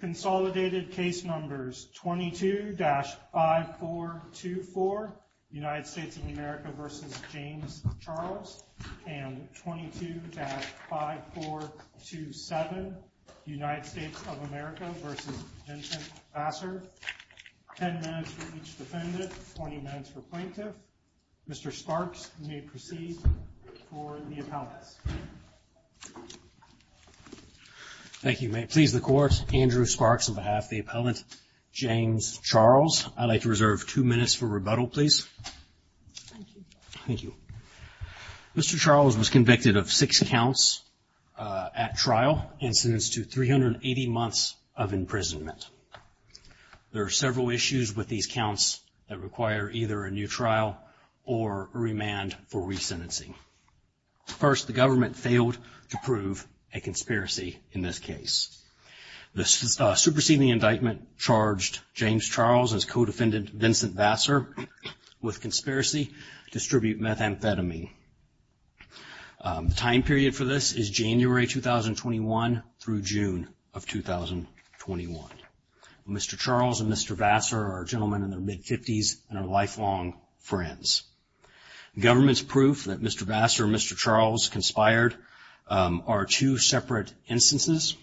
Consolidated case numbers 22-5424, United States of America v. James Charles, and 22-5427, United States of America v. Vincent Vassar. Ten minutes for each defendant, 20 minutes for plaintiff. Mr. Sparks, you may proceed for the appellants. Thank you. May it please the court, Andrew Sparks on behalf of the appellant James Charles. I'd like to reserve two minutes for rebuttal, please. Thank you. Mr. Charles was convicted of six counts at trial and sentenced to 380 months of imprisonment. There are several issues with these counts that require either a new trial or remand for resentencing. First, the government failed to prove a conspiracy in this case. The superseding indictment charged James Charles as co-defendant Vincent Vassar with conspiracy to distribute methamphetamine. The time period for this is January 2021 through June of 2021. Mr. Charles and Mr. Vassar are gentlemen in their mid-50s and are lifelong friends. The government's proof that Mr. Vassar and Mr. Charles conspired are two separate instances.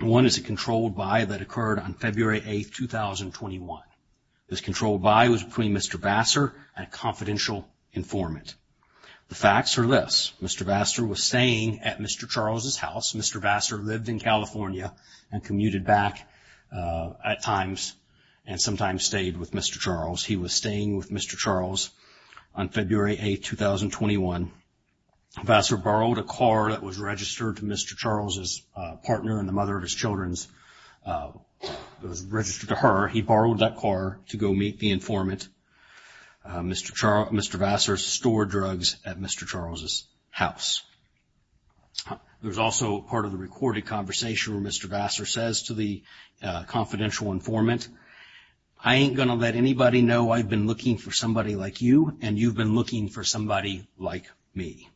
One is a controlled buy that occurred on February 8th, 2021. This controlled buy was between Mr. Vassar and a confidential informant. The facts are this. Mr. Vassar was staying at Mr. Charles' house. Mr. Vassar lived in California and commuted back at times and sometimes stayed with Mr. Charles. He was staying with Mr. Charles on February 8th, 2021. Vassar borrowed a car that was registered to Mr. Charles' partner and the mother of his children's. It was registered to her. He borrowed that car to go meet the informant. Mr. Vassar stored drugs at Mr. Charles' house. There's also part of the recorded conversation where Mr. Vassar says to the confidential informant, I ain't gonna let anybody know I've been looking for somebody like you and you've been looking for somebody like me.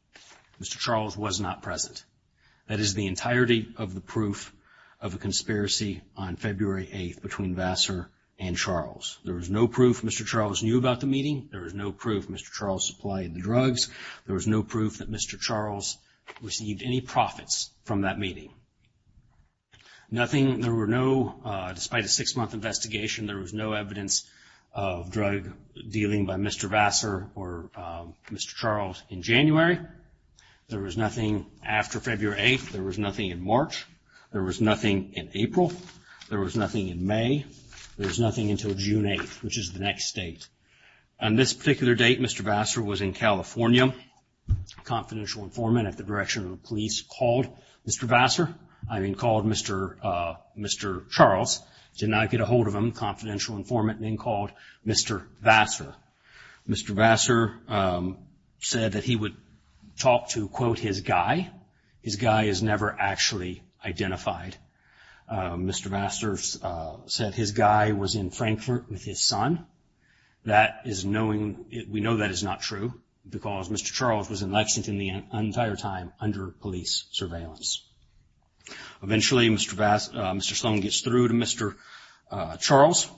Mr. Charles was not present. That is the entirety of the proof of a conspiracy on February 8th between Vassar and Charles. There was no proof Mr. Charles knew about the meeting. There was no proof Mr. Charles supplied the drugs. There was no proof that Mr. Charles received any profits from that meeting. Despite a six-month investigation, there was no evidence of drug dealing by Mr. Vassar or Mr. Charles in January. There was nothing after February 8th. There was nothing in March. There was nothing in April. There was nothing in May. There was nothing until June 8th, which is the next date. On this particular date, Mr. Vassar was in California. Confidential informant at the direction of the police called Mr. Vassar, I mean called Mr. Charles. Did not get a hold of him. Confidential informant then called Mr. Vassar. Mr. Vassar said that he would talk to, quote, his guy. His guy is never actually identified. Mr. Vassar said his guy was in Frankfurt with his son. We know that is not true because Mr. Charles was in Lexington the entire time under police surveillance. Eventually, Mr. Sloan gets through to Mr. Charles.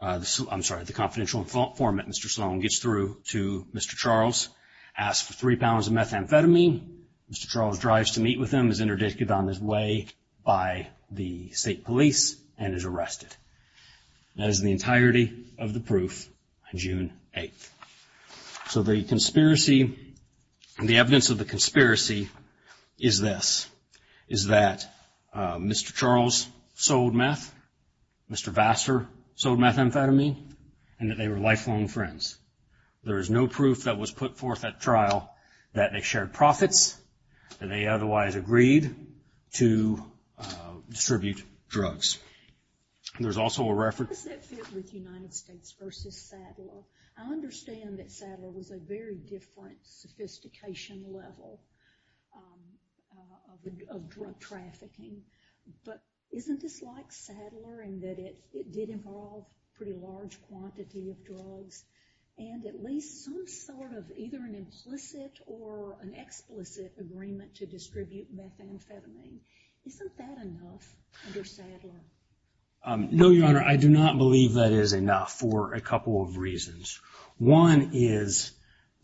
I'm sorry, the confidential informant, Mr. Sloan, gets through to Mr. Charles, asks for three pounds of methamphetamine. Mr. Charles drives to meet with him, is interdicted on his way by the state police, and is arrested. That is the entirety of the proof on June 8th. So the conspiracy, the evidence of the conspiracy is this. Is that Mr. Charles sold meth, Mr. Vassar sold methamphetamine, and that they were lifelong friends. There is no proof that was put forth at trial that they shared profits, that they otherwise agreed to distribute drugs. There's also a reference- How does that fit with United States versus Sadler? I understand that Sadler was a very different sophistication level of drug trafficking, but isn't this like Sadler in that it did involve a pretty large quantity of drugs, and at least some sort of either an implicit or an explicit agreement to distribute methamphetamine. Isn't that enough under Sadler? No, Your Honor, I do not believe that is enough for a couple of reasons. One is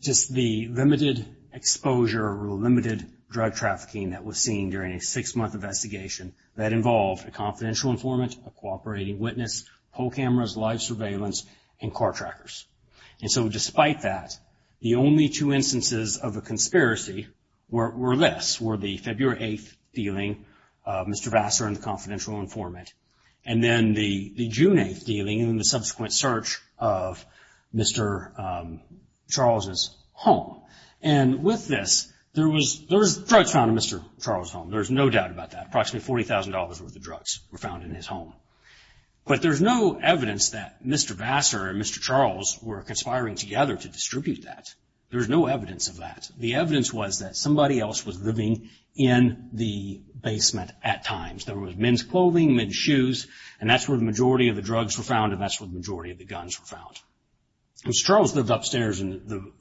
just the limited exposure or limited drug trafficking that was seen during a six-month investigation that involved a confidential informant, a cooperating witness, poll cameras, live surveillance, and car trackers. And so despite that, the only two instances of a conspiracy were this, were the February 8th dealing, Mr. Vassar and the confidential informant, and then the June 8th dealing and the subsequent search of Mr. Charles' home. And with this, there was drugs found in Mr. Charles' home. There's no doubt about that. Approximately $40,000 worth of drugs were found in his home. But there's no evidence that Mr. Vassar and Mr. Charles were conspiring together to distribute that. There's no evidence of that. The evidence was that somebody else was living in the basement at times. There was men's clothing, men's shoes, and that's where the majority of the drugs were found, and that's where the majority of the guns were found. Mr. Charles lived upstairs in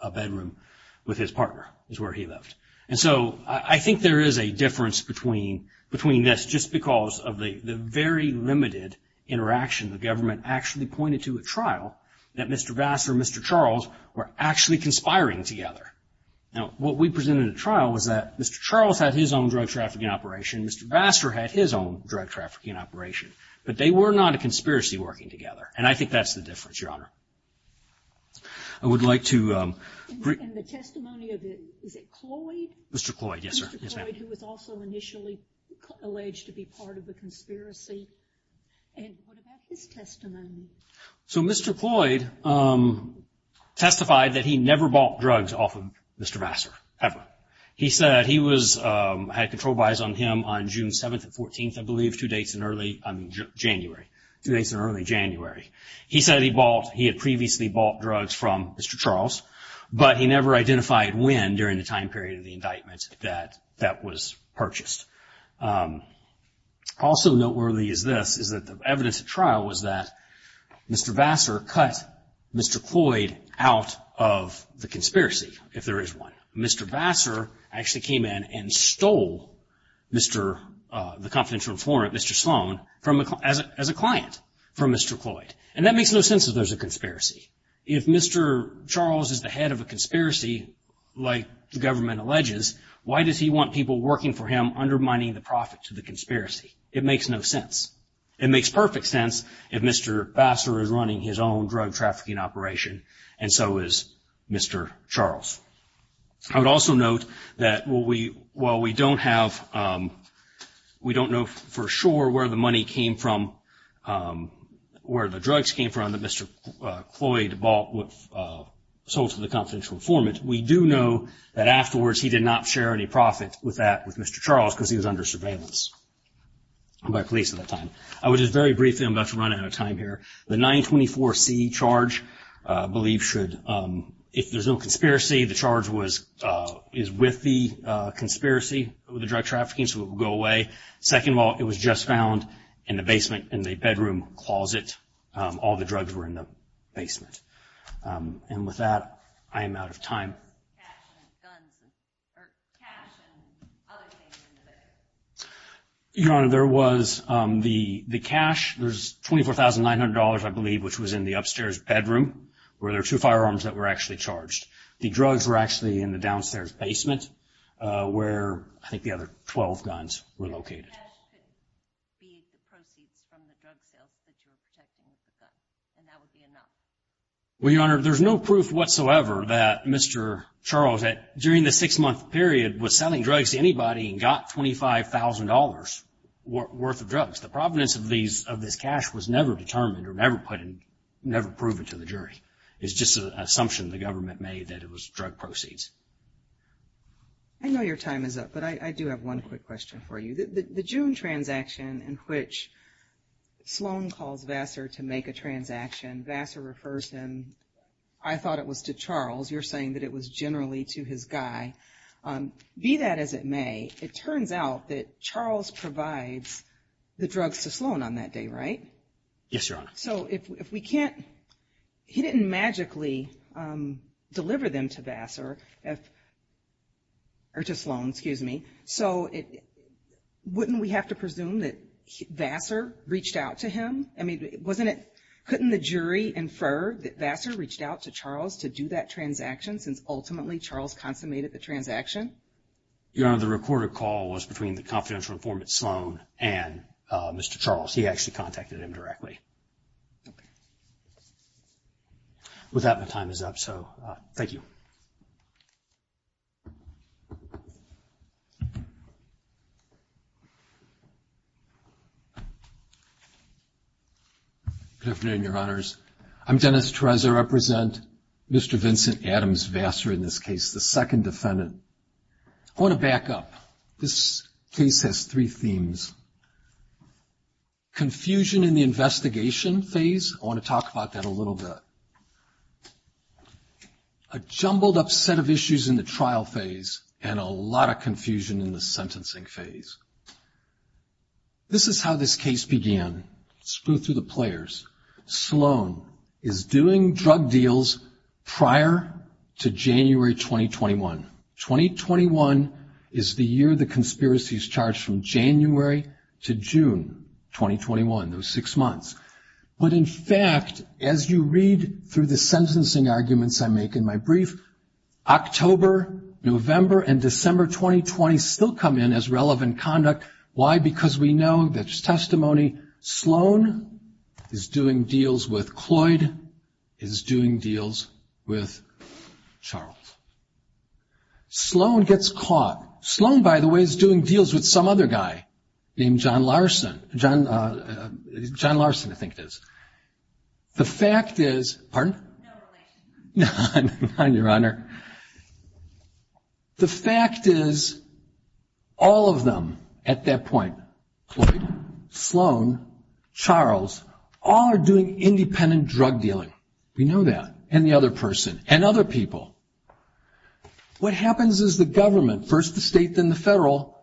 a bedroom with his partner is where he lived. And so I think there is a difference between this just because of the very limited interaction. The government actually pointed to a trial that Mr. Vassar and Mr. Charles were actually conspiring together. Now, what we presented in the trial was that Mr. Charles had his own drug trafficking operation, Mr. Vassar had his own drug trafficking operation, but they were not a conspiracy working together, and I think that's the difference, Your Honor. I would like to bring. And the testimony of, is it Cloyd? Mr. Cloyd, yes, ma'am. Mr. Cloyd, who was also initially alleged to be part of the conspiracy. And what about his testimony? So Mr. Cloyd testified that he never bought drugs off of Mr. Vassar, ever. He said he had control buys on him on June 7th and 14th, I believe, two days in early January. He said he bought, he had previously bought drugs from Mr. Charles, but he never identified when during the time period of the indictment that that was purchased. Also noteworthy is this, is that the evidence at trial was that Mr. Vassar cut Mr. Cloyd out of the conspiracy, if there is one. Mr. Vassar actually came in and stole the confidential informant, Mr. Sloan, as a client from Mr. Cloyd. And that makes no sense if there's a conspiracy. If Mr. Charles is the head of a conspiracy, like the government alleges, why does he want people working for him undermining the profits of the conspiracy? It makes no sense. It makes perfect sense if Mr. Vassar is running his own drug trafficking operation, and so is Mr. Charles. I would also note that while we don't have, we don't know for sure where the money came from, where the drugs came from that Mr. Cloyd bought, sold to the confidential informant, we do know that afterwards he did not share any profit with that, with Mr. Charles, because he was under surveillance by police at that time. I would just very briefly, I'm about to run out of time here, the 924C charge I believe should, if there's no conspiracy, the charge is with the conspiracy, with the drug trafficking, so it will go away. Second of all, it was just found in the basement, in the bedroom closet. All the drugs were in the basement. And with that, I am out of time. Your Honor, there was the cash, there's $24,900 I believe, which was in the upstairs bedroom, where there were two firearms that were actually charged. The drugs were actually in the downstairs basement, where I think the other 12 guns were located. Well, Your Honor, there's no proof whatsoever that Mr. Charles, during the six-month period, was selling drugs to anybody and got $25,000 worth of drugs. The provenance of this cash was never determined or never put in, never proven to the jury. It's just an assumption the government made that it was drug proceeds. I know your time is up, but I do have one quick question for you. The June transaction in which Sloan calls Vassar to make a transaction, Vassar refers him, I thought it was to Charles. You're saying that it was generally to his guy. Be that as it may, it turns out that Charles provides the drugs to Sloan on that day, right? Yes, Your Honor. So if we can't, he didn't magically deliver them to Vassar, or to Sloan, excuse me. So wouldn't we have to presume that Vassar reached out to him? I mean, couldn't the jury infer that Vassar reached out to Charles to do that transaction since ultimately Charles consummated the transaction? Your Honor, the recorded call was between the confidential informant Sloan and Mr. Charles. He actually contacted him directly. Okay. With that, my time is up, so thank you. Good afternoon, Your Honors. I'm Dennis Torres. I represent Mr. Vincent Adams Vassar in this case, the second defendant. I want to back up. This case has three themes. Confusion in the investigation phase, I want to talk about that a little bit. A jumbled up set of issues in the trial phase, and a lot of confusion in the sentencing phase. This is how this case began. Let's go through the players. Sloan is doing drug deals prior to January 2021. 2021 is the year the conspiracy is charged from January to June 2021, those six months. But in fact, as you read through the sentencing arguments I make in my brief, October, November, and December 2020 still come in as relevant conduct. Why? Because we know the testimony, Sloan is doing deals with Cloyd, is doing deals with Charles. Sloan gets caught. Sloan, by the way, is doing deals with some other guy named John Larson. John Larson, I think it is. The fact is, pardon? No relation. None, Your Honor. The fact is, all of them at that point, Cloyd, Sloan, Charles, all are doing independent drug dealing. We know that. And the other person. And other people. What happens is the government, first the state, then the federal,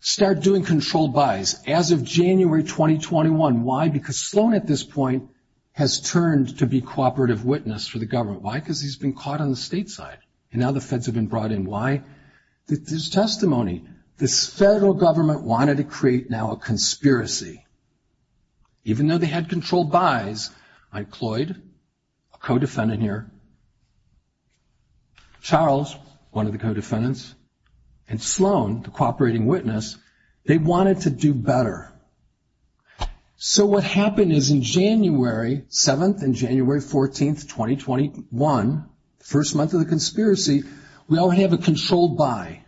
start doing controlled buys as of January 2021. Why? Because Sloan at this point has turned to be cooperative witness for the government. Why? Because he's been caught on the state side. And now the feds have been brought in. Why? There's testimony. This federal government wanted to create now a conspiracy. Even though they had controlled buys on Cloyd, a co-defendant here, Charles, one of the co-defendants, and Sloan, the cooperating witness, they wanted to do better. So what happened is in January 7th and January 14th, 2021, first month of the conspiracy, we already have a controlled buy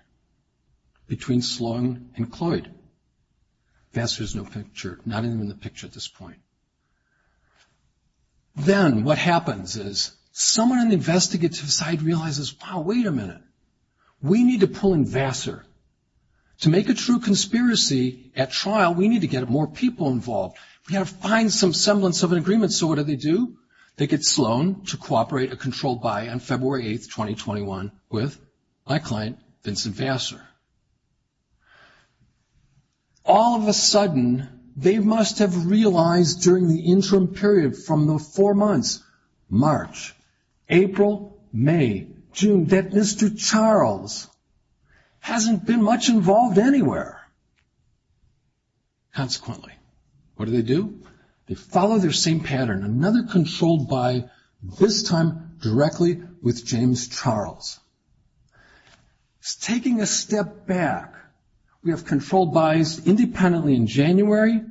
between Sloan and Cloyd. Vassar is not in the picture at this point. Then what happens is someone on the investigative side realizes, wow, wait a minute. We need to pull in Vassar. To make a true conspiracy at trial, we need to get more people involved. We got to find some semblance of an agreement. So what do they do? They get Sloan to cooperate a controlled buy on February 8th, 2021, with my client, Vincent Vassar. All of a sudden, they must have realized during the interim period from the four months, March, April, May, June, that Mr. Charles hasn't been much involved anywhere. Consequently, what do they do? They follow their same pattern, another controlled buy, this time directly with James Charles. Taking a step back, we have controlled buys independently in January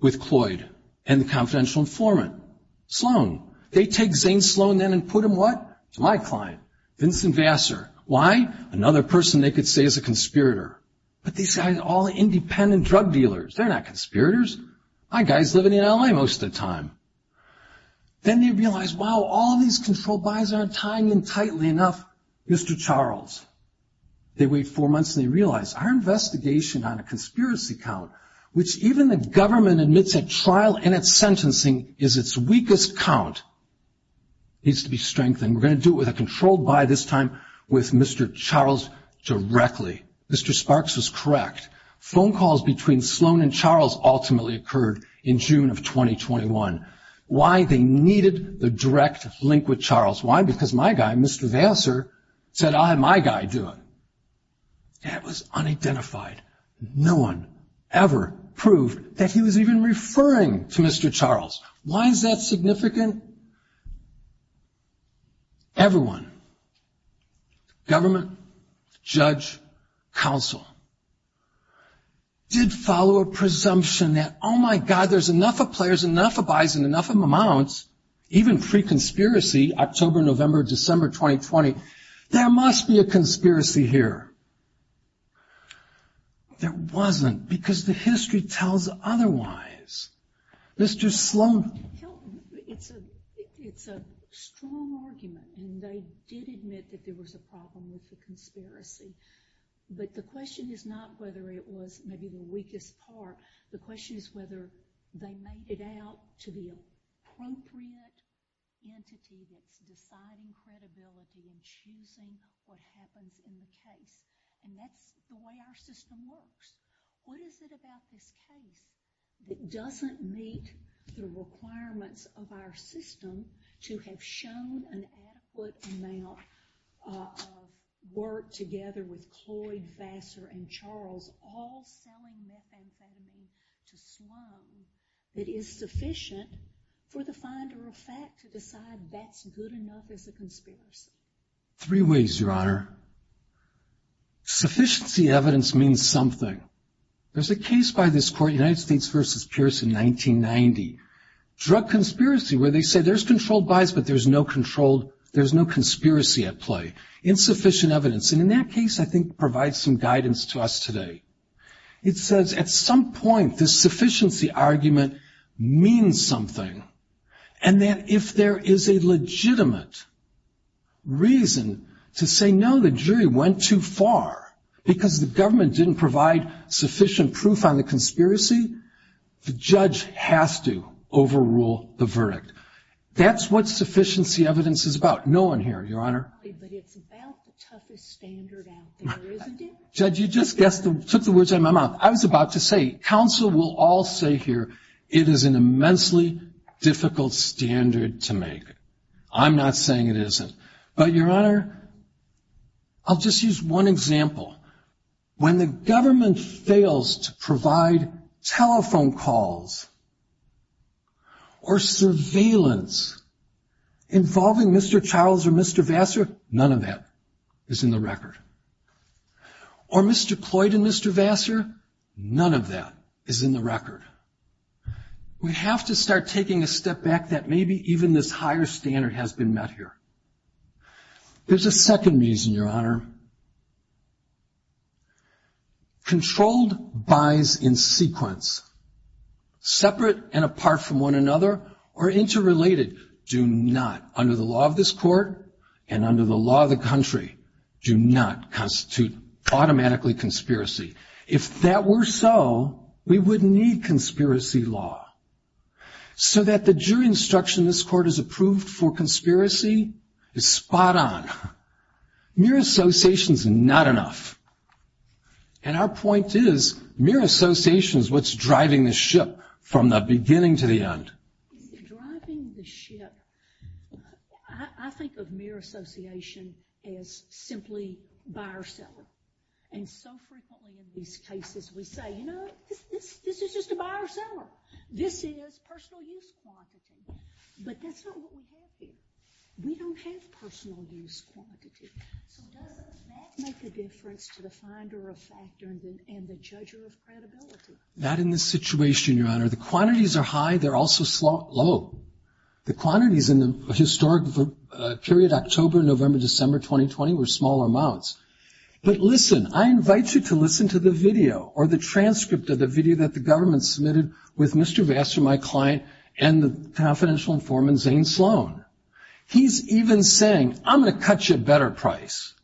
with Cloyd and the confidential informant, Sloan. They take Zane Sloan then and put him what? To my client, Vincent Vassar. Why? Another person they could say is a conspirator. But these guys are all independent drug dealers. They're not conspirators. My guy's living in L.A. most of the time. Then they realize, wow, all these controlled buys aren't tying in tightly enough Mr. Charles. They wait four months and they realize our investigation on a conspiracy count, which even the government admits at trial and at sentencing is its weakest count, needs to be strengthened. We're going to do it with a controlled buy this time with Mr. Charles directly. Mr. Sparks was correct. Phone calls between Sloan and Charles ultimately occurred in June of 2021. Why? They needed the direct link with Charles. Why? Because my guy, Mr. Vassar, said I'll have my guy do it. That was unidentified. No one ever proved that he was even referring to Mr. Charles. Why is that significant? Everyone, government, judge, counsel, did follow a presumption that, oh, my God, there's enough of players, enough of buys, and enough of amounts, even pre-conspiracy, October, November, December 2020, there must be a conspiracy here. There wasn't because the history tells otherwise. Mr. Sloan. It's a strong argument, and they did admit that there was a problem with the conspiracy. But the question is not whether it was maybe the weakest part. The question is whether they made it out to the appropriate entity that's deciding credibility and choosing what happens in the case. And that's the way our system works. What is it about this case that doesn't meet the requirements of our system to have shown an adequate amount of work together with Cloyd, Vassar, and Charles, all selling methamphetamine to Sloan that is sufficient for the finder of fact to decide that's good enough as a conspiracy? Three ways, Your Honor. Sufficiency evidence means something. There's a case by this court, United States v. Pierce in 1990, drug conspiracy, where they said there's controlled buys, but there's no conspiracy at play. Insufficient evidence. And in that case, I think, provides some guidance to us today. It says at some point this sufficiency argument means something, and that if there is a legitimate reason to say, no, the jury went too far, because the government didn't provide sufficient proof on the conspiracy, the judge has to overrule the verdict. That's what sufficiency evidence is about. No one here, Your Honor. But it's about the toughest standard out there, isn't it? Judge, you just took the words out of my mouth. I was about to say, counsel will all say here, it is an immensely difficult standard to make. I'm not saying it isn't. But, Your Honor, I'll just use one example. When the government fails to provide telephone calls or surveillance involving Mr. Charles or Mr. Vassar, none of that is in the record. Or Mr. Cloyd and Mr. Vassar, none of that is in the record. We have to start taking a step back that maybe even this higher standard has been met here. There's a second reason, Your Honor. Controlled buys in sequence, separate and apart from one another, or interrelated, do not, under the law of this court and under the law of the country, do not constitute automatically conspiracy. If that were so, we wouldn't need conspiracy law. So that the jury instruction this court has approved for conspiracy is spot on. Mere association is not enough. And our point is mere association is what's driving the ship from the beginning to the end. It's driving the ship. I think of mere association as simply buyer-seller. And so frequently in these cases we say, you know, this is just a buyer-seller. This is personal use quantity. But that's not what we have here. We don't have personal use quantity. So doesn't that make a difference to the finder of fact and the judger of credibility? Not in this situation, Your Honor. The quantities are high. They're also low. The quantities in the historic period October, November, December 2020 were small amounts. But listen, I invite you to listen to the video or the transcript of the video that the government submitted with Mr. Vassar, my client, and the confidential informant, Zane Sloan. He's even saying, I'm going to cut you a better price.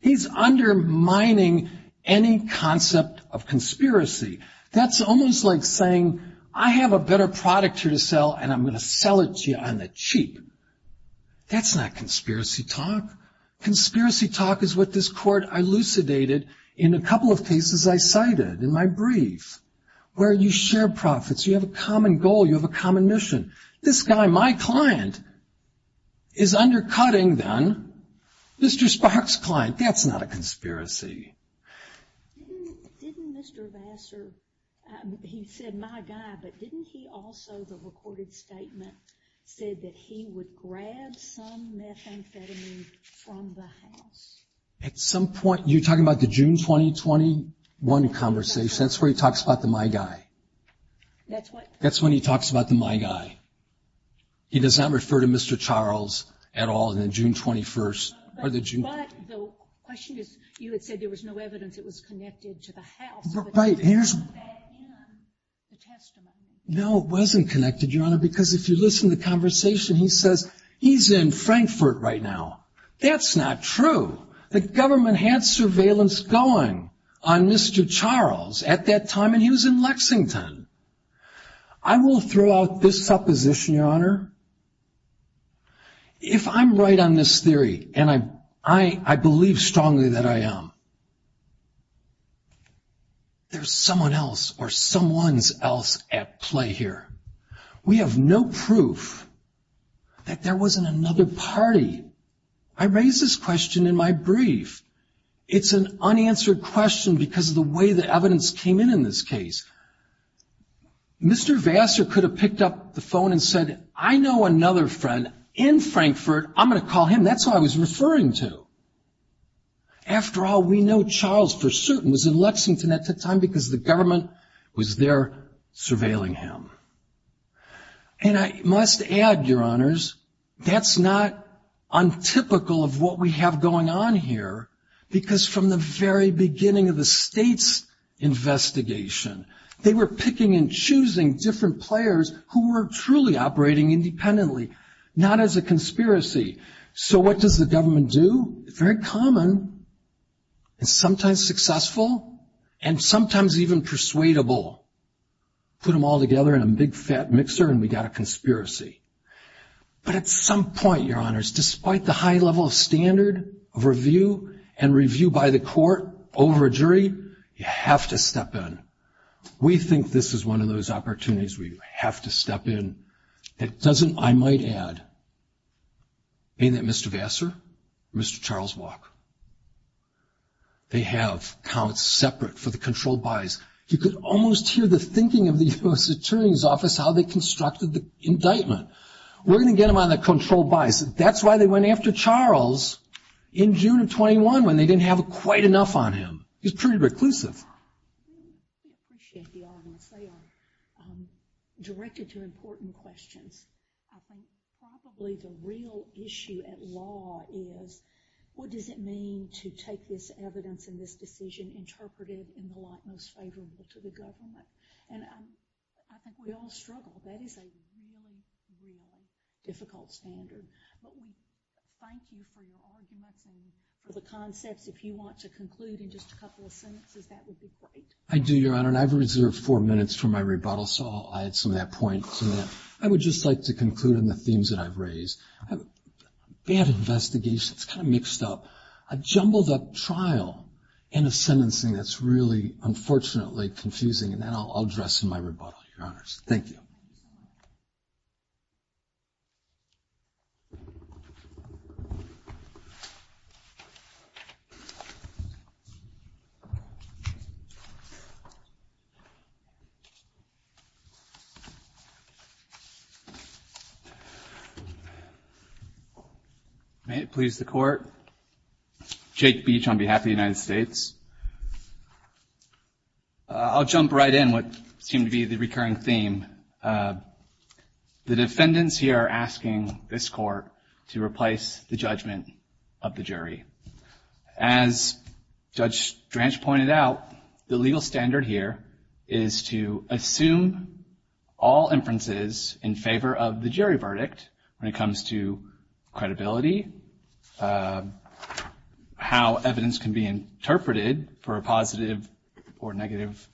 He's undermining any concept of conspiracy. That's almost like saying, I have a better product here to sell, and I'm going to sell it to you on the cheap. That's not conspiracy talk. Conspiracy talk is what this Court elucidated in a couple of cases I cited in my brief, where you share profits, you have a common goal, you have a common mission. This guy, my client, is undercutting, then, Mr. Sparks' client. That's not a conspiracy. Didn't Mr. Vassar, he said my guy, but didn't he also, the recorded statement, said that he would grab some methamphetamine from the house? At some point, you're talking about the June 2021 conversation. That's where he talks about the my guy. That's when he talks about the my guy. He does not refer to Mr. Charles at all in the June 21st. But the question is, you had said there was no evidence it was connected to the house. Right. Was that in the testimony? No, it wasn't connected, Your Honor, because if you listen to the conversation, he says he's in Frankfurt right now. That's not true. The government had surveillance going on Mr. Charles at that time, and he was in Lexington. I will throw out this supposition, Your Honor. If I'm right on this theory, and I believe strongly that I am, there's someone else or someone else at play here. We have no proof that there wasn't another party. I raise this question in my brief. It's an unanswered question because of the way the evidence came in in this case. Mr. Vassar could have picked up the phone and said, I know another friend in Frankfurt, I'm going to call him. That's who I was referring to. After all, we know Charles for certain was in Lexington at the time because the government was there surveilling him. And I must add, Your Honors, that's not untypical of what we have going on here, because from the very beginning of the state's investigation, they were picking and choosing different players who were truly operating independently, not as a conspiracy. So what does the government do? Very common, and sometimes successful, and sometimes even persuadable, put them all together in a big, fat mixer and we got a conspiracy. But at some point, Your Honors, despite the high level of standard of review and review by the court over a jury, you have to step in. We think this is one of those opportunities where you have to step in. It doesn't, I might add, being that Mr. Vassar, Mr. Charles Walk, they have counts separate for the controlled buys. You could almost hear the thinking of the U.S. Attorney's Office how they constructed the indictment. We're going to get them on the controlled buys. That's why they went after Charles in June of 21, when they didn't have quite enough on him. He was pretty reclusive. I appreciate the Honors. They are directed to important questions. I think probably the real issue at law is what does it mean to take this evidence and this decision interpreted in the light most favorable to the government. And I think we all struggle. That is a really, really difficult standard. But we thank you for your arguments and for the concepts. If you want to conclude in just a couple of sentences, that would be great. I do, Your Honor, and I've reserved four minutes for my rebuttal, so I'll add some of that point to that. I would just like to conclude on the themes that I've raised. I have a bad investigation. It's kind of mixed up. A jumbled up trial and a sentencing that's really, unfortunately, confusing. And then I'll address my rebuttal, Your Honors. Thank you. Thank you, sir. May it please the Court. Jake Beach on behalf of the United States. I'll jump right in what seemed to be the recurring theme. The defendants here are asking this Court to replace the judgment of the jury. As Judge Dranch pointed out, the legal standard here is to assume all inferences in favor of the jury verdict when it comes to credibility, how evidence can be interpreted for a positive or negative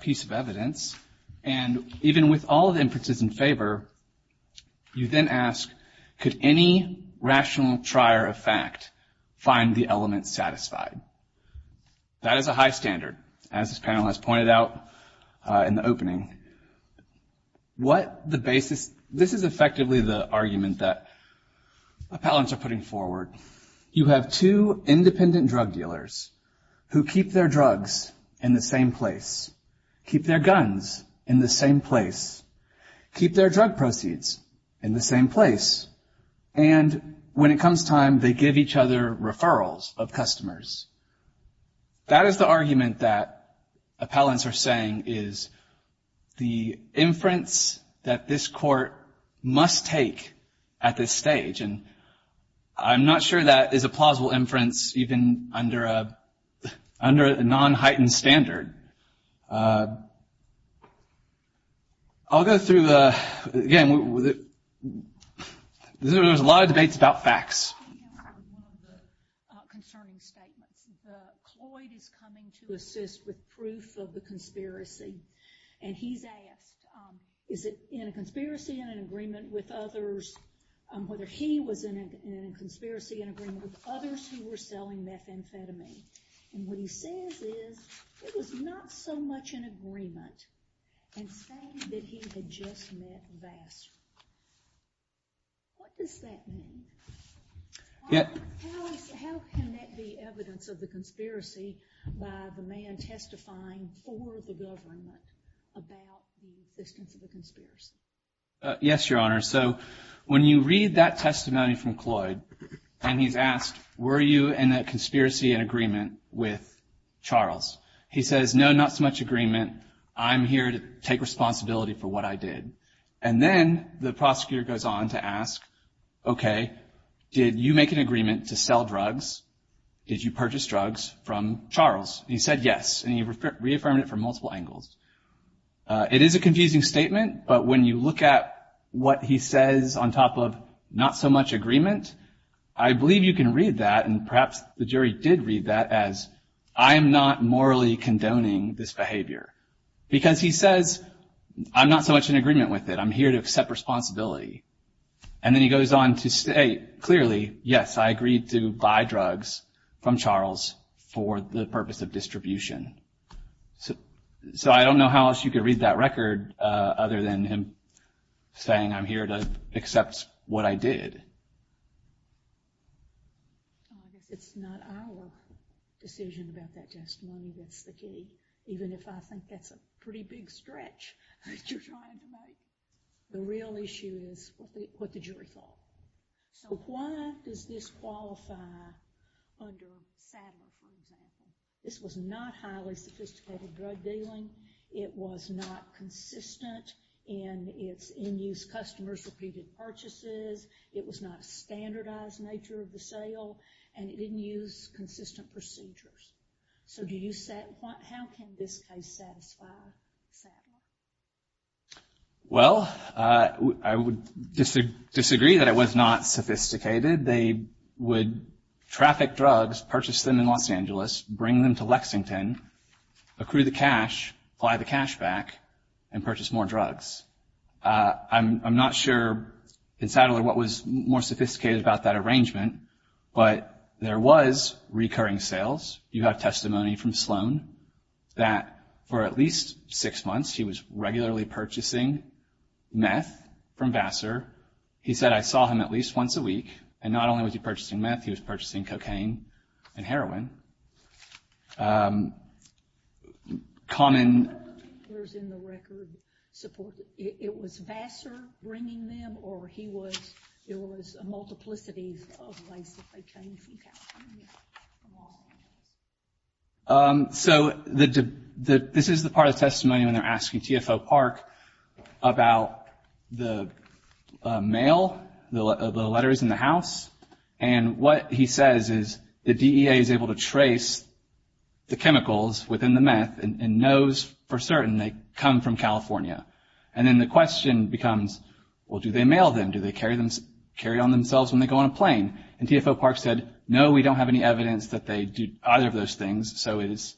piece of evidence. And even with all the inferences in favor, you then ask, could any rational trier of fact find the element satisfied? That is a high standard, as this panel has pointed out in the opening. This is effectively the argument that appellants are putting forward. You have two independent drug dealers who keep their drugs in the same place, keep their guns in the same place, keep their drug proceeds in the same place, and when it comes time, they give each other referrals of customers. That is the argument that appellants are saying is the inference that this Court must take at this stage. And I'm not sure that is a plausible inference even under a non-heightened standard. I'll go through the, again, there's a lot of debates about facts. We have one of the concerning statements. The Cloyd is coming to assist with proof of the conspiracy, and he's asked, is it in a conspiracy and an agreement with others, whether he was in a conspiracy and agreement with others who were selling methamphetamine? And what he says is it was not so much an agreement and saying that he had just met Vassar. What does that mean? How can that be evidence of the conspiracy by the man testifying for the government about the existence of a conspiracy? Yes, Your Honor. So when you read that testimony from Cloyd and he's asked, were you in a conspiracy and agreement with Charles? He says, no, not so much agreement. I'm here to take responsibility for what I did. And then the prosecutor goes on to ask, OK, did you make an agreement to sell drugs? Did you purchase drugs from Charles? He said yes, and he reaffirmed it from multiple angles. It is a confusing statement, but when you look at what he says on top of not so much agreement, I believe you can read that and perhaps the jury did read that as I am not morally condoning this behavior. Because he says I'm not so much in agreement with it. I'm here to accept responsibility. And then he goes on to state clearly, yes, I agreed to buy drugs from Charles for the purpose of distribution. So I don't know how else you could read that record other than him saying I'm here to accept what I did. I guess it's not our decision about that testimony that's the key, even if I think that's a pretty big stretch that you're trying to make. The real issue is what the jury thought. So why does this qualify under Sadler, for example? This was not highly sophisticated drug dealing. It was not consistent in its end-use customers' repeated purchases. It was not a standardized nature of the sale, and it didn't use consistent procedures. So how can this case satisfy Sadler? Well, I would disagree that it was not sophisticated. They would traffic drugs, purchase them in Los Angeles, bring them to Lexington, accrue the cash, apply the cash back, and purchase more drugs. I'm not sure in Sadler what was more sophisticated about that arrangement, but there was recurring sales. You have testimony from Sloan that for at least six months he was regularly purchasing meth from Vassar. He said, I saw him at least once a week. And not only was he purchasing meth, he was purchasing cocaine and heroin. Common. What were the dealers in the record supporting? It was Vassar bringing them, or it was a multiplicity of ways that they came from California from Los Angeles? So this is the part of the testimony when they're asking TFO Park about the mail, the letters in the house. And what he says is the DEA is able to trace the chemicals within the meth and knows for certain they come from California. And then the question becomes, well, do they mail them? Do they carry on themselves when they go on a plane? And TFO Park said, no, we don't have any evidence that they do either of those things, so it is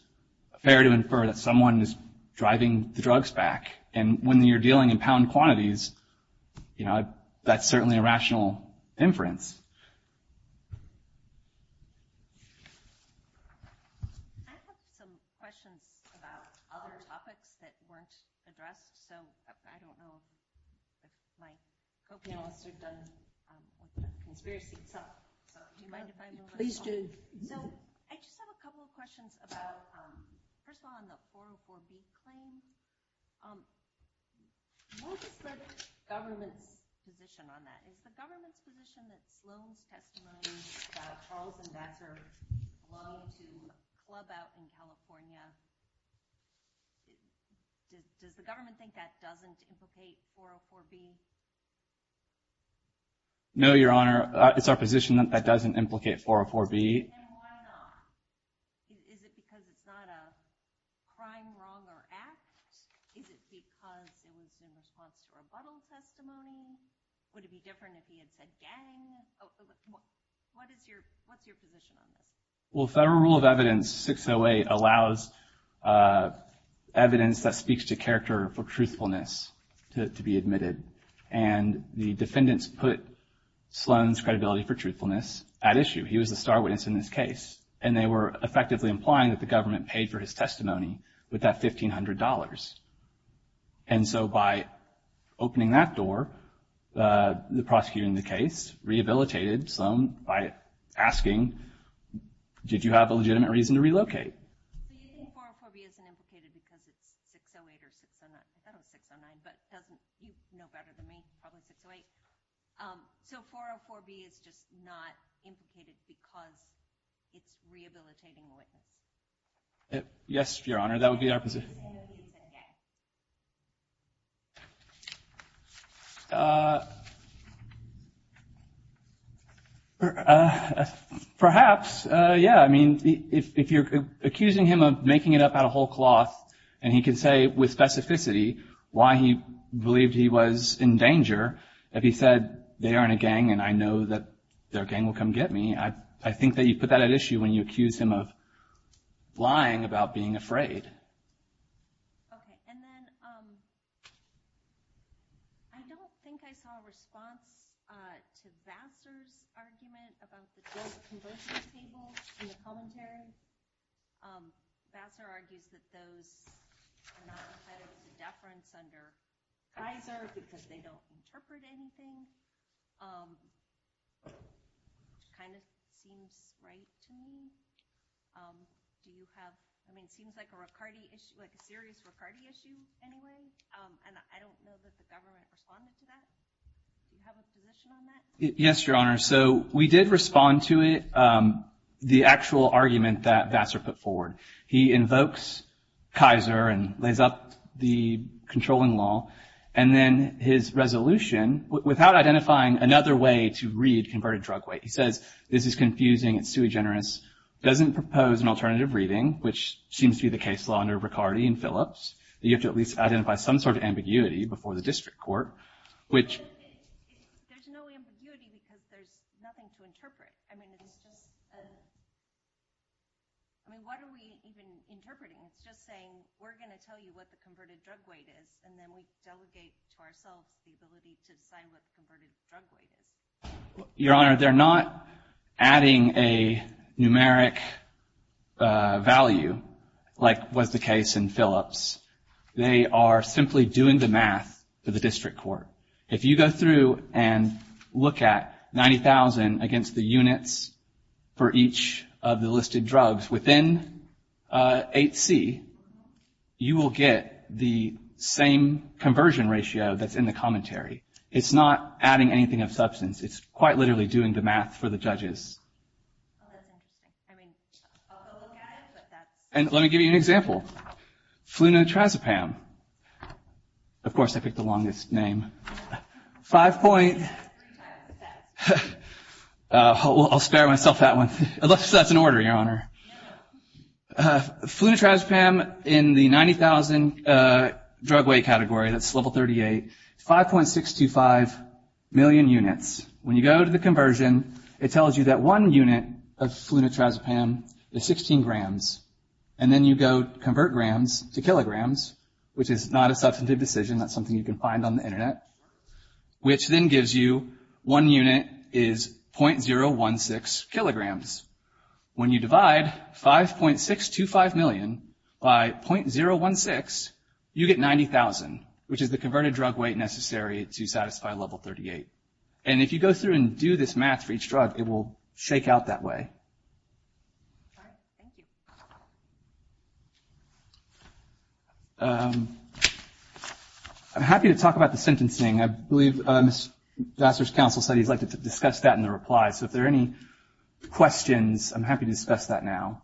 fair to infer that someone is driving the drugs back. And when you're dealing in pound quantities, you know, that's certainly a rational inference. I have some questions about other topics that weren't addressed. So I don't know if my co-panelists have done conspiracy. So do you mind if I move on? Please do. So I just have a couple of questions about, first of all, on the 404B claim. What is the government's position on that? Is the government's position that Sloan's testimony about Charles and Vassar's love to club out in California, does the government think that doesn't implicate 404B? No, Your Honor. It's our position that that doesn't implicate 404B. And why not? Is it because it's not a crime, wrong, or act? Is it because it was in response to rebuttal testimony? Would it be different if he had said gang? What's your position on this? Well, Federal Rule of Evidence 608 allows evidence that speaks to character for truthfulness to be admitted. And the defendants put Sloan's credibility for truthfulness at issue. He was the star witness in this case. And they were effectively implying that the government paid for his testimony with that $1,500. And so by opening that door, the prosecutor in the case rehabilitated Sloan by asking, did you have a legitimate reason to relocate? So you think 404B isn't implicated because it's 608 or 609? I thought it was 609, but you know better than me, probably 608. So 404B is just not implicated because it's rehabilitating the witness? Yes, Your Honor. That would be our position. Perhaps, yeah, I mean, if you're accusing him of making it up out of whole cloth, and he can say with specificity why he believed he was in danger, if he said they aren't a gang and I know that their gang will come get me, I think that you put that at issue when you accuse him of lying about being afraid. Okay. And then I don't think I saw a response to Vassar's argument about the guilt conversion table in the commentary. Vassar argues that those are not entitled to deference under Kaiser because they don't interpret anything, which kind of seems right to me. Do you have, I mean, it seems like a serious Riccardi issue anyway, and I don't know that the government responded to that. Do you have a position on that? Yes, Your Honor. So we did respond to it, the actual argument that Vassar put forward. He invokes Kaiser and lays up the controlling law, and then his resolution, without identifying another way to read converted drug weight, he says, this is confusing, it's too generous, doesn't propose an alternative reading, which seems to be the case law under Riccardi and Phillips, that you have to at least identify some sort of ambiguity before the district court. There's no ambiguity because there's nothing to interpret. I mean, it's just, I mean, what are we even interpreting? It's just saying we're going to tell you what the converted drug weight is, and then we delegate to ourselves the ability to decide what the converted drug weight is. Your Honor, they're not adding a numeric value like was the case in Phillips. They are simply doing the math for the district court. If you go through and look at 90,000 against the units for each of the listed drugs within 8C, you will get the same conversion ratio that's in the commentary. It's not adding anything of substance. It's quite literally doing the math for the judges. And let me give you an example. Flunitrazepam. Of course, I picked the longest name. Five point-well, I'll spare myself that one, unless that's an order, Your Honor. Flunitrazepam in the 90,000 drug weight category, that's level 38, 5.625 million units. When you go to the conversion, it tells you that one unit of flunitrazepam is 16 grams. And then you go convert grams to kilograms, which is not a substantive decision. That's something you can find on the Internet, which then gives you one unit is .016 kilograms. When you divide 5.625 million by .016, you get 90,000, which is the converted drug weight necessary to satisfy level 38. And if you go through and do this math for each drug, it will shake out that way. All right. Thank you. I'm happy to talk about the sentencing. I believe Ms. Vassar's counsel said he'd like to discuss that in the reply. So if there are any questions, I'm happy to discuss that now.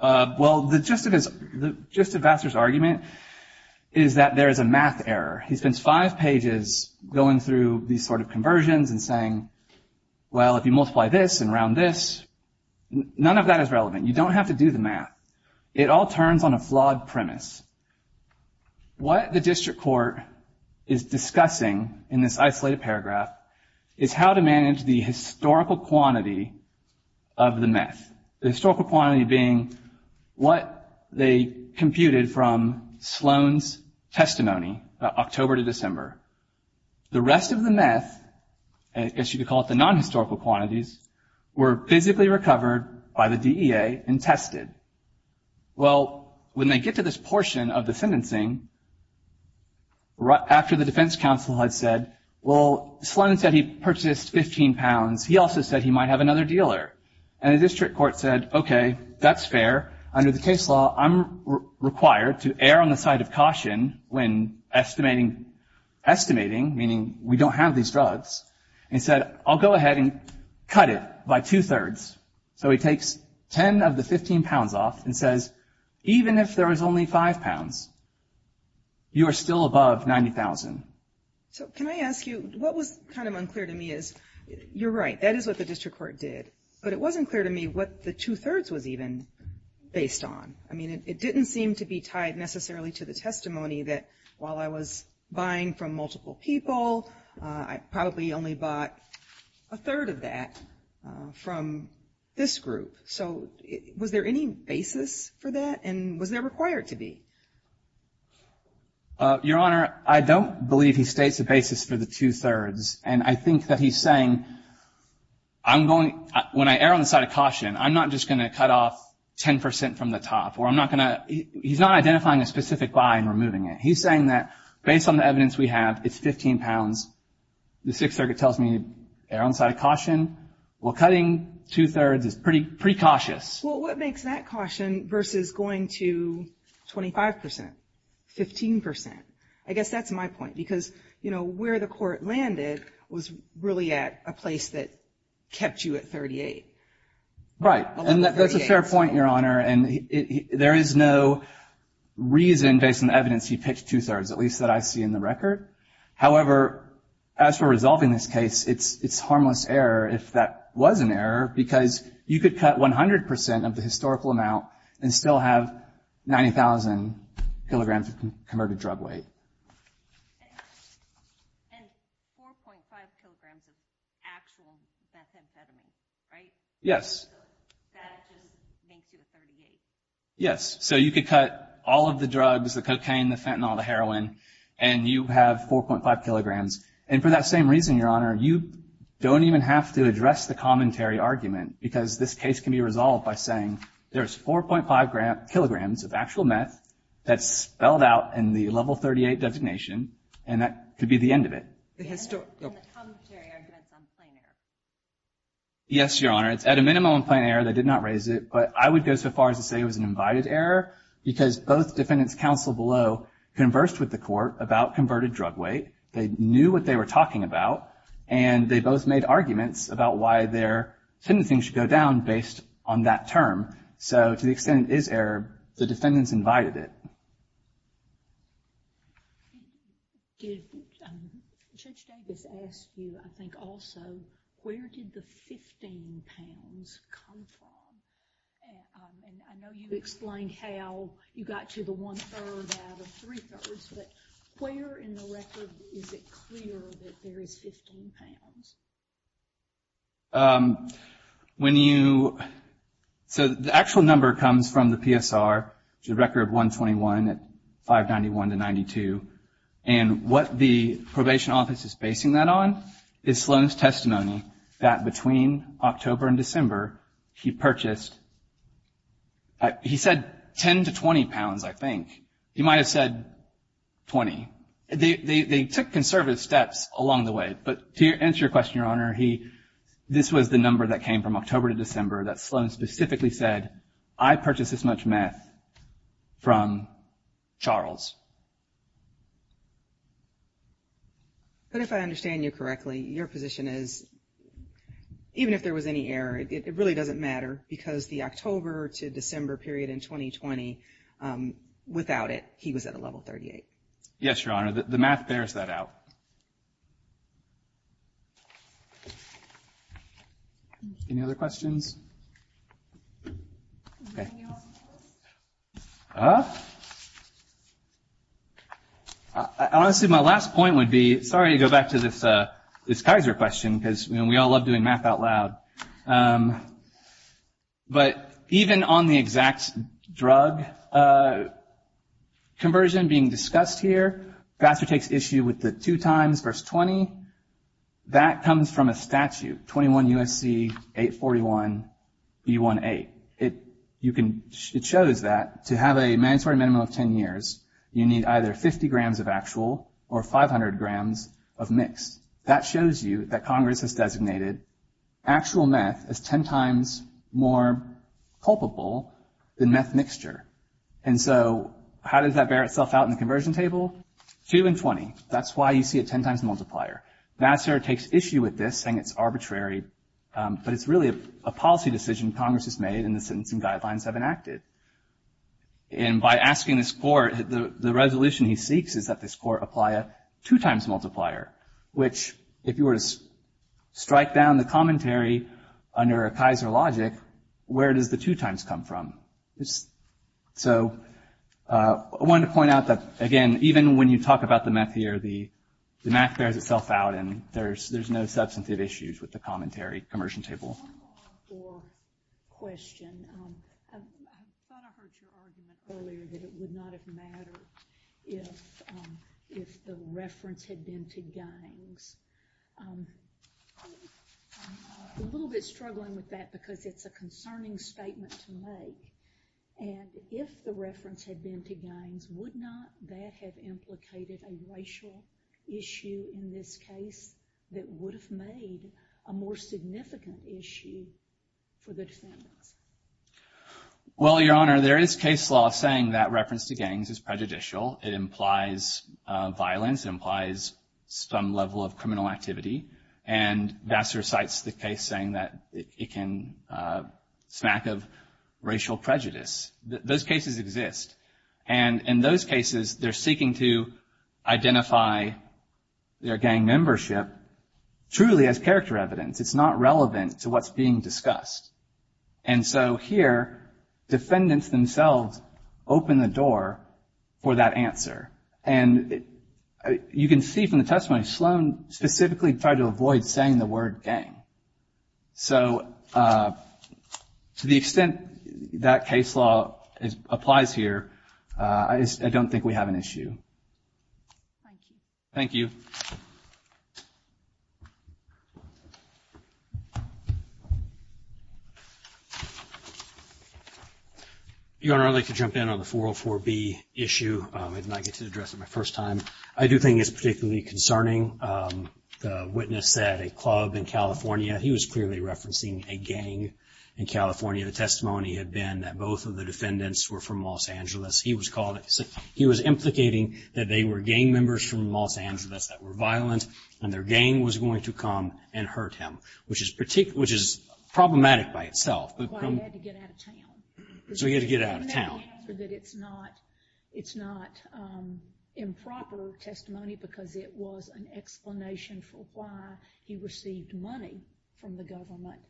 Well, the gist of Vassar's argument is that there is a math error. He spends five pages going through these sort of conversions and saying, well, if you multiply this and round this, none of that is relevant. You don't have to do the math. It all turns on a flawed premise. What the district court is discussing in this isolated paragraph is how to manage the historical quantity of the meth, the historical quantity being what they computed from Sloan's testimony about October to December. The rest of the meth, I guess you could call it the non-historical quantities, were physically recovered by the DEA and tested. Well, when they get to this portion of the sentencing, after the defense counsel had said, well, Sloan said he purchased 15 pounds, he also said he might have another dealer. And the district court said, okay, that's fair. Under the case law, I'm required to err on the side of caution when estimating, meaning we don't have these drugs, and said, I'll go ahead and cut it by two-thirds. So he takes 10 of the 15 pounds off and says, even if there was only 5 pounds, you are still above 90,000. So can I ask you, what was kind of unclear to me is, you're right, that is what the district court did. But it wasn't clear to me what the two-thirds was even based on. I mean, it didn't seem to be tied necessarily to the testimony that while I was buying from multiple people, I probably only bought a third of that from this group. So was there any basis for that? And was there required to be? Your Honor, I don't believe he states a basis for the two-thirds. And I think that he's saying, when I err on the side of caution, I'm not just going to cut off 10% from the top. He's not identifying a specific buy and removing it. He's saying that based on the evidence we have, it's 15 pounds. The Sixth Circuit tells me to err on the side of caution. Well, cutting two-thirds is pretty cautious. Well, what makes that caution versus going to 25%, 15%? I guess that's my point because, you know, where the court landed was really at a place that kept you at 38. And that's a fair point, Your Honor. And there is no reason based on the evidence he pitched two-thirds, at least that I see in the record. However, as for resolving this case, it's harmless error if that was an error because you could cut 100% of the historical amount and still have 90,000 kilograms of converted drug weight. And 4.5 kilograms of actual methamphetamine, right? Yes. So that just makes you a 38? Yes. So you could cut all of the drugs, the cocaine, the fentanyl, the heroin, and you have 4.5 kilograms. And for that same reason, Your Honor, you don't even have to address the commentary argument because this case can be resolved by saying, there's 4.5 kilograms of actual meth that's spelled out in the level 38 designation, and that could be the end of it. And the commentary argument's on plain error? Yes, Your Honor. It's at a minimum on plain error. They did not raise it. But I would go so far as to say it was an invited error because both defendants' counsel below conversed with the court about converted drug weight. They knew what they were talking about, and they both made arguments about why their sentencing should go down based on that term. So to the extent it is error, the defendants invited it. Judge Davis asked you, I think, also, where did the 15 pounds come from? And I know you explained how you got to the one-third out of three-thirds, but where in the record is it clear that there is 15 pounds? When you – so the actual number comes from the PSR, which is a record of 121 at 591 to 92. And what the probation office is basing that on is Sloan's testimony that between October and December, he purchased – he said 10 to 20 pounds, I think. He might have said 20. They took conservative steps along the way. But to answer your question, Your Honor, this was the number that came from October to December that Sloan specifically said, I purchased this much meth from Charles. But if I understand you correctly, your position is even if there was any error, it really doesn't matter because the October to December period in 2020, without it, he was at a level 38. Yes, Your Honor. The math bears that out. Any other questions? Honestly, my last point would be – sorry to go back to this Kaiser question because we all love doing math out loud. But even on the exact drug conversion being discussed here, Bassler takes issue with the two times verse 20. That comes from a statute, 21 U.S.C. 841 B1A. It shows that to have a mandatory minimum of 10 years, you need either 50 grams of actual or 500 grams of mixed. That shows you that Congress has designated actual meth as 10 times more culpable than meth mixture. And so how does that bear itself out in the conversion table? Two and 20. That's why you see a 10 times multiplier. Bassler takes issue with this, saying it's arbitrary, but it's really a policy decision Congress has made and the sentencing guidelines have enacted. And by asking this court, the resolution he seeks is that this court apply a two times multiplier, which if you were to strike down the commentary under a Kaiser logic, where does the two times come from? So I wanted to point out that, again, even when you talk about the meth here, the math bears itself out and there's no substantive issues with the commentary conversion table. One more question. I thought I heard your argument earlier that it would not have mattered if the reference had been to gangs. I'm a little bit struggling with that because it's a concerning statement to make. And if the reference had been to gangs, would not that have implicated a racial issue in this case that would have made a more significant issue for the defendants? Well, Your Honor, there is case law saying that reference to gangs is prejudicial. It implies violence. It implies some level of criminal activity. And Bassler cites the case saying that it can smack of racial prejudice. Those cases exist. And in those cases they're seeking to identify their gang membership truly as character evidence. It's not relevant to what's being discussed. And so here defendants themselves open the door for that answer. And you can see from the testimony, Sloan specifically tried to avoid saying the word gang. So to the extent that case law applies here, I don't think we have an issue. Thank you. Thank you. Thank you. Your Honor, I'd like to jump in on the 404B issue. I did not get to address it my first time. I do think it's particularly concerning. The witness said a club in California. He was clearly referencing a gang in California. The testimony had been that both of the defendants were from Los Angeles. He was implicating that they were gang members from Los Angeles that were violent and their gang was going to come and hurt him, which is problematic by itself. Well, he had to get out of town. So he had to get out of town. Isn't that the answer, that it's not improper testimony because it was an explanation for why he received money from the government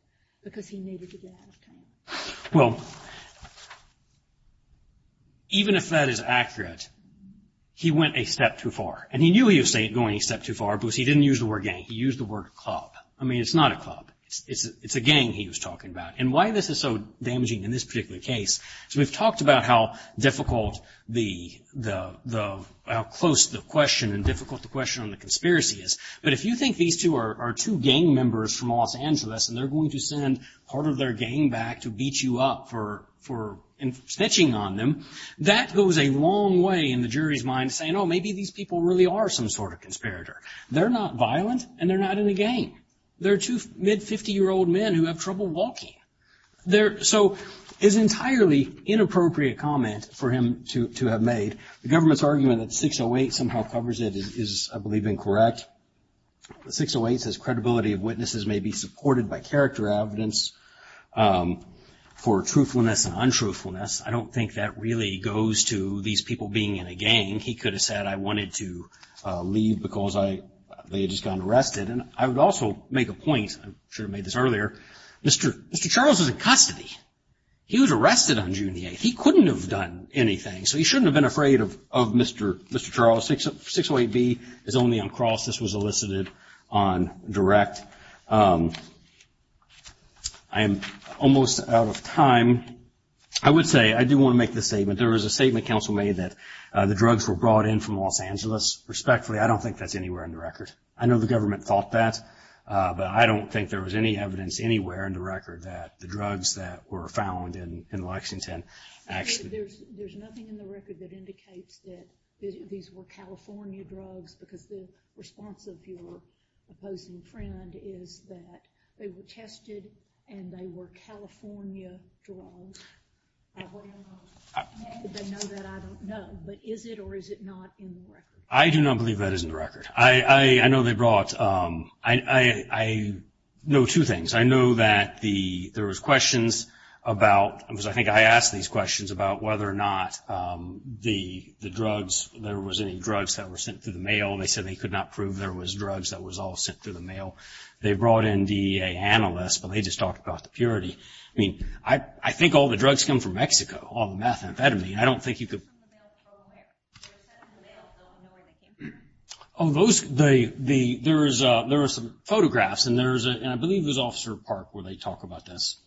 because he needed to get out of town? Well, even if that is accurate, he went a step too far. And he knew he was going a step too far because he didn't use the word gang. He used the word club. I mean, it's not a club. It's a gang he was talking about. And why this is so damaging in this particular case is we've talked about how difficult the – how close the question and difficult the question on the conspiracy is. But if you think these two are two gang members from Los Angeles and they're going to send part of their gang back to beat you up for snitching on them, that goes a long way in the jury's mind saying, oh, maybe these people really are some sort of conspirator. They're not violent and they're not in a gang. They're two mid-50-year-old men who have trouble walking. So it's entirely inappropriate comment for him to have made. The government's argument that 608 somehow covers it is, I believe, incorrect. 608 says credibility of witnesses may be supported by character evidence for truthfulness and untruthfulness. I don't think that really goes to these people being in a gang. He could have said, I wanted to leave because they had just gone arrested. And I would also make a point, I should have made this earlier, Mr. Charles was in custody. He was arrested on June the 8th. He couldn't have done anything. So he shouldn't have been afraid of Mr. Charles. 608B is only uncrossed. This was elicited on direct. I am almost out of time. I would say I do want to make this statement. There was a statement counsel made that the drugs were brought in from Los Angeles. Respectfully, I don't think that's anywhere in the record. I know the government thought that. But I don't think there was any evidence anywhere in the record that the drugs that were found in Lexington. There's nothing in the record that indicates that these were California drugs, because the response of your opposing friend is that they were tested and they were California drugs. What do you know? They know that, I don't know. But is it or is it not in the record? I do not believe that is in the record. I know they brought ‑‑ I know two things. I know that there was questions about, because I think I asked these questions about whether or not the drugs, there was any drugs that were sent through the mail. They said they could not prove there was drugs that was all sent through the mail. They brought in DEA analysts, but they just talked about the purity. I mean, I think all the drugs come from Mexico, all the methamphetamine. I don't think you could ‑‑ They were sent through the mail, so I don't know where they came from. Oh, those ‑‑ there are some photographs, and I believe it was Officer Park where they talk about this.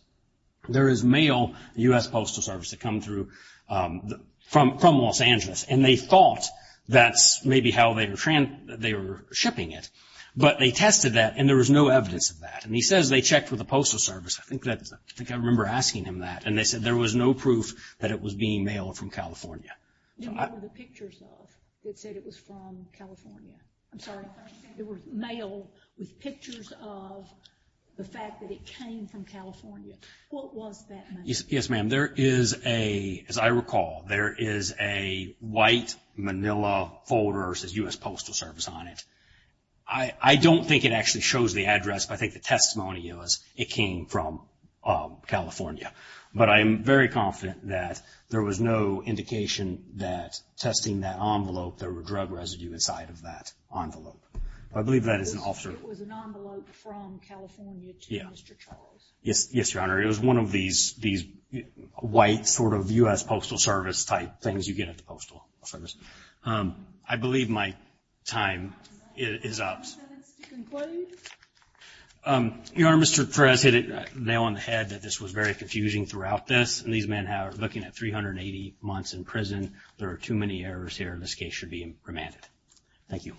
There is mail, U.S. Postal Service, that come through from Los Angeles, and they thought that's maybe how they were shipping it. But they tested that, and there was no evidence of that. And he says they checked with the Postal Service. I think I remember asking him that, and they said there was no proof that it was being mailed from California. And what were the pictures of that said it was from California? I'm sorry. There was mail with pictures of the fact that it came from California. What was that mail? Yes, ma'am. There is a, as I recall, there is a white manila folder that says U.S. Postal Service on it. I don't think it actually shows the address, but I think the testimony is it came from California. But I am very confident that there was no indication that testing that envelope, there were drug residue inside of that envelope. I believe that is an officer. It was an envelope from California to Mr. Charles. Yes, Your Honor. It was one of these white sort of U.S. Postal Service type things you get at the Postal Service. I believe my time is up. Do you have any comments to conclude? Your Honor, Mr. Perez hit it nail on the head that this was very confusing throughout this, and these men are looking at 380 months in prison. There are too many errors here, and this case should be remanded. Thank you.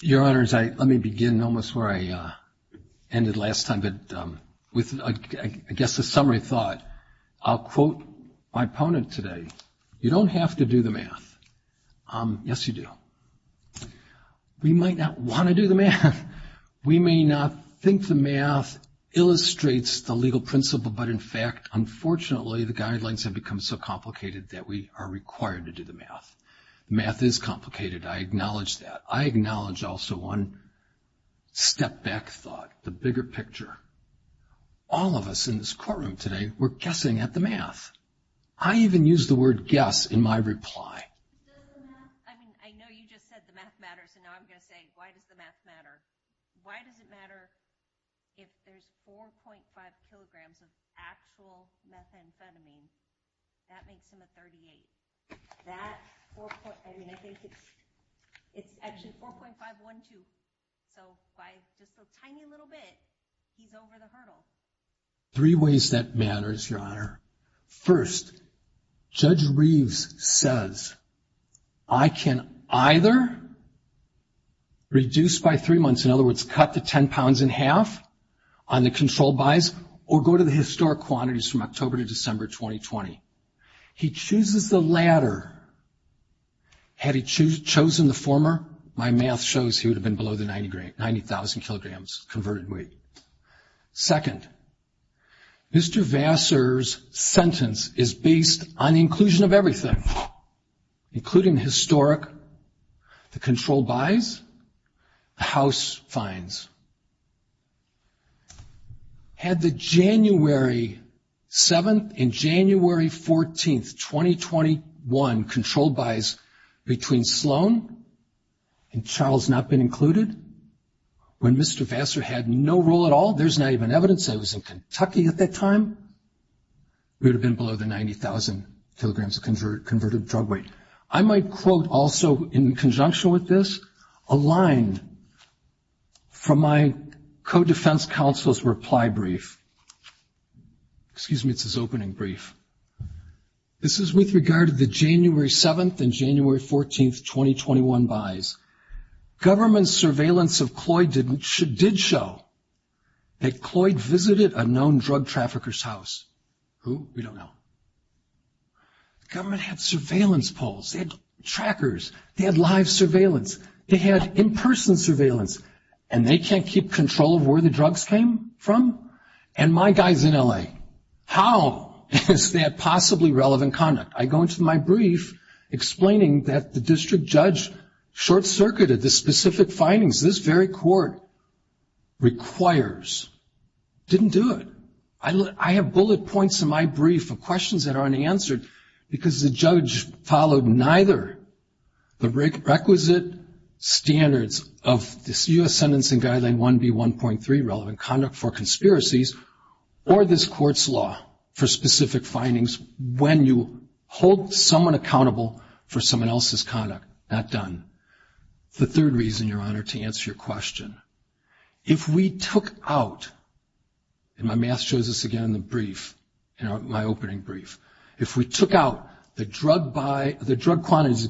Your Honors, let me begin almost where I ended last time, but with, I guess, a summary thought. I'll quote my opponent today. You don't have to do the math. Yes, you do. We might not want to do the math. We may not think the math illustrates the legal principle, but, in fact, unfortunately the guidelines have become so complicated that we are required to do the math. The math is complicated. I acknowledge that. I acknowledge also one step back thought, the bigger picture. All of us in this courtroom today were guessing at the math. I even used the word guess in my reply. I mean, I know you just said the math matters, and now I'm going to say why does the math matter. Why does it matter if there's 4.5 kilograms of actual methamphetamine? That makes them a 38. That, I mean, I think it's actually 4.512. So by just a tiny little bit, he's over the hurdle. Three ways that matters, Your Honor. First, Judge Reeves says I can either reduce by three months, in other words, cut the 10 pounds in half on the controlled buys, or go to the historic quantities from October to December 2020. He chooses the latter. Had he chosen the former, my math shows he would have been below the 90,000 kilograms converted weight. Second, Mr. Vassar's sentence is based on inclusion of everything, including historic. The controlled buys, the house fines. Had the January 7th and January 14th, 2021, controlled buys between Sloan and Charles not been included, when Mr. Vassar had no role at all, there's not even evidence that he was in Kentucky at that time, he would have been below the 90,000 kilograms converted drug weight. I might quote also, in conjunction with this, a line from my co-defense counsel's reply brief. Excuse me, it's his opening brief. This is with regard to the January 7th and January 14th, 2021 buys. Government surveillance of Cloyd did show that Cloyd visited a known drug trafficker's house. Who? We don't know. Government had surveillance polls. They had trackers. They had live surveillance. They had in-person surveillance. And they can't keep control of where the drugs came from? And my guy's in L.A. How is that possibly relevant conduct? I go into my brief explaining that the district judge short-circuited the specific findings this very court requires. Didn't do it. I have bullet points in my brief of questions that aren't answered because the judge followed neither the requisite standards of this U.S. Sentencing Guideline 1B1.3, relevant conduct for conspiracies, or this court's law for specific findings when you hold someone accountable for someone else's conduct. Not done. The third reason, Your Honor, to answer your question. If we took out, and my math shows this again in the brief, in my opening brief, if we took out the drug quantities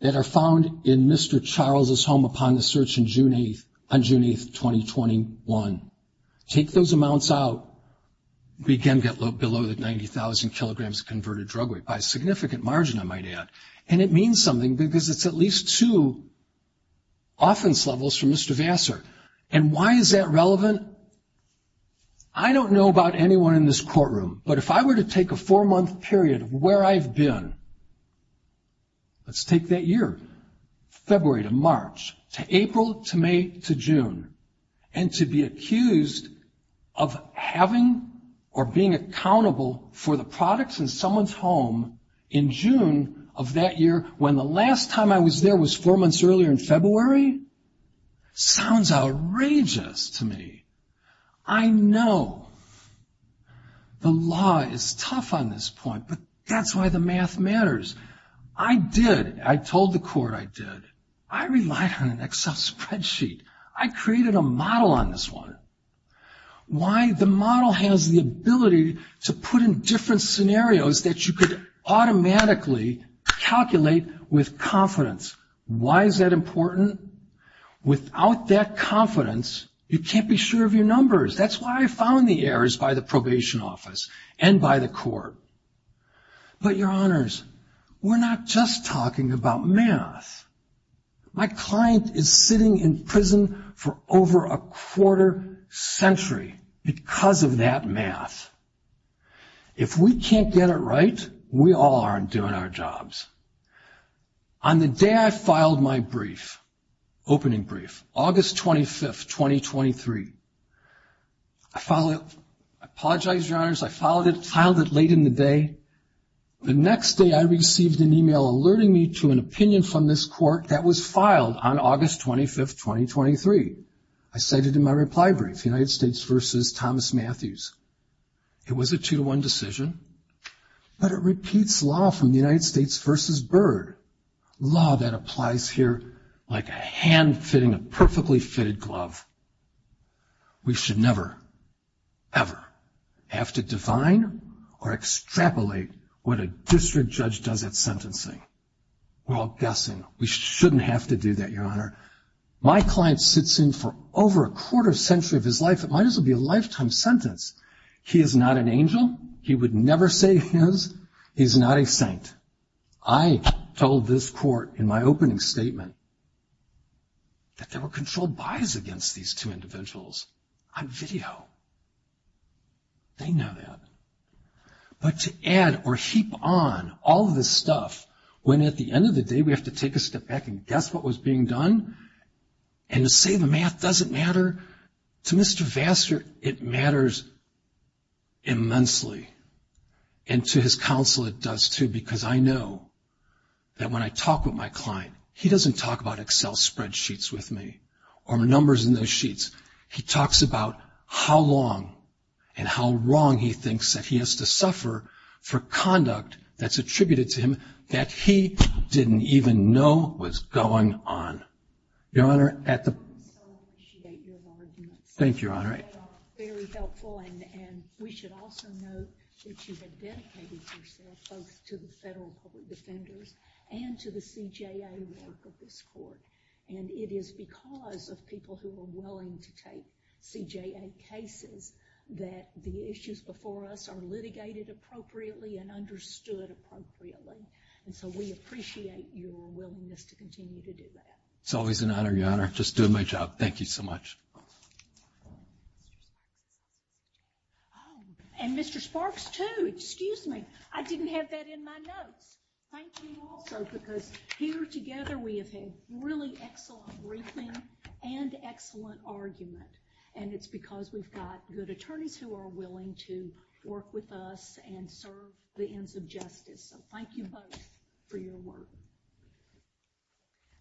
that are found in Mr. Charles' home upon the search on June 8th, 2021, take those amounts out, we again get below the 90,000 kilograms converted drug weight, by a significant margin, I might add. And it means something because it's at least two offense levels from Mr. Vassar. And why is that relevant? I don't know about anyone in this courtroom, but if I were to take a four-month period of where I've been, let's take that year, February to March, to April to May to June, and to be accused of having or being accountable for the products in someone's home in June of that year, when the last time I was there was four months earlier in February, sounds outrageous to me. I know the law is tough on this point, but that's why the math matters. I did, I told the court I did. I relied on an Excel spreadsheet. I created a model on this one. Why? The model has the ability to put in different scenarios that you could automatically calculate with confidence. Why is that important? Without that confidence, you can't be sure of your numbers. That's why I found the errors by the probation office and by the court. But, Your Honors, we're not just talking about math. My client is sitting in prison for over a quarter century because of that math. If we can't get it right, we all aren't doing our jobs. On the day I filed my brief, opening brief, August 25th, 2023, I filed it. I apologize, Your Honors, I filed it late in the day. The next day I received an email alerting me to an opinion from this court that was filed on August 25th, 2023. I cited in my reply brief, United States v. Thomas Matthews. It was a two-to-one decision, but it repeats law from the United States v. Byrd, law that applies here like a hand fitting a perfectly fitted glove. We should never, ever have to define or extrapolate what a district judge does at sentencing. We're all guessing. We shouldn't have to do that, Your Honor. My client sits in for over a quarter century of his life. It might as well be a lifetime sentence. He is not an angel. He would never say his. He's not a saint. I told this court in my opening statement that there were controlled buys against these two individuals on video. They know that. But to add or heap on all of this stuff when at the end of the day we have to take a step back and guess what was being done and to say the math doesn't matter, to Mr. Vassar it matters immensely. And to his counsel it does, too, because I know that when I talk with my client, he doesn't talk about Excel spreadsheets with me or numbers in those sheets. He talks about how long and how wrong he thinks that he has to suffer for conduct that's attributed to him that he didn't even know was going on. Your Honor, at the... I so appreciate your arguments. Thank you, Your Honor. They are very helpful, and we should also note that you have dedicated yourself both to the federal court defenders and to the CJA work of this court. And it is because of people who are willing to take CJA cases that the issues before us are litigated appropriately and understood appropriately. And so we appreciate your willingness to continue to do that. It's always an honor, Your Honor. Just doing my job. Thank you so much. And Mr. Sparks, too. Excuse me. I didn't have that in my notes. Thank you also because here together we have had really excellent briefing and excellent argument. And it's because we've got good attorneys who are willing to work with us and serve the ends of justice. So thank you both for your work.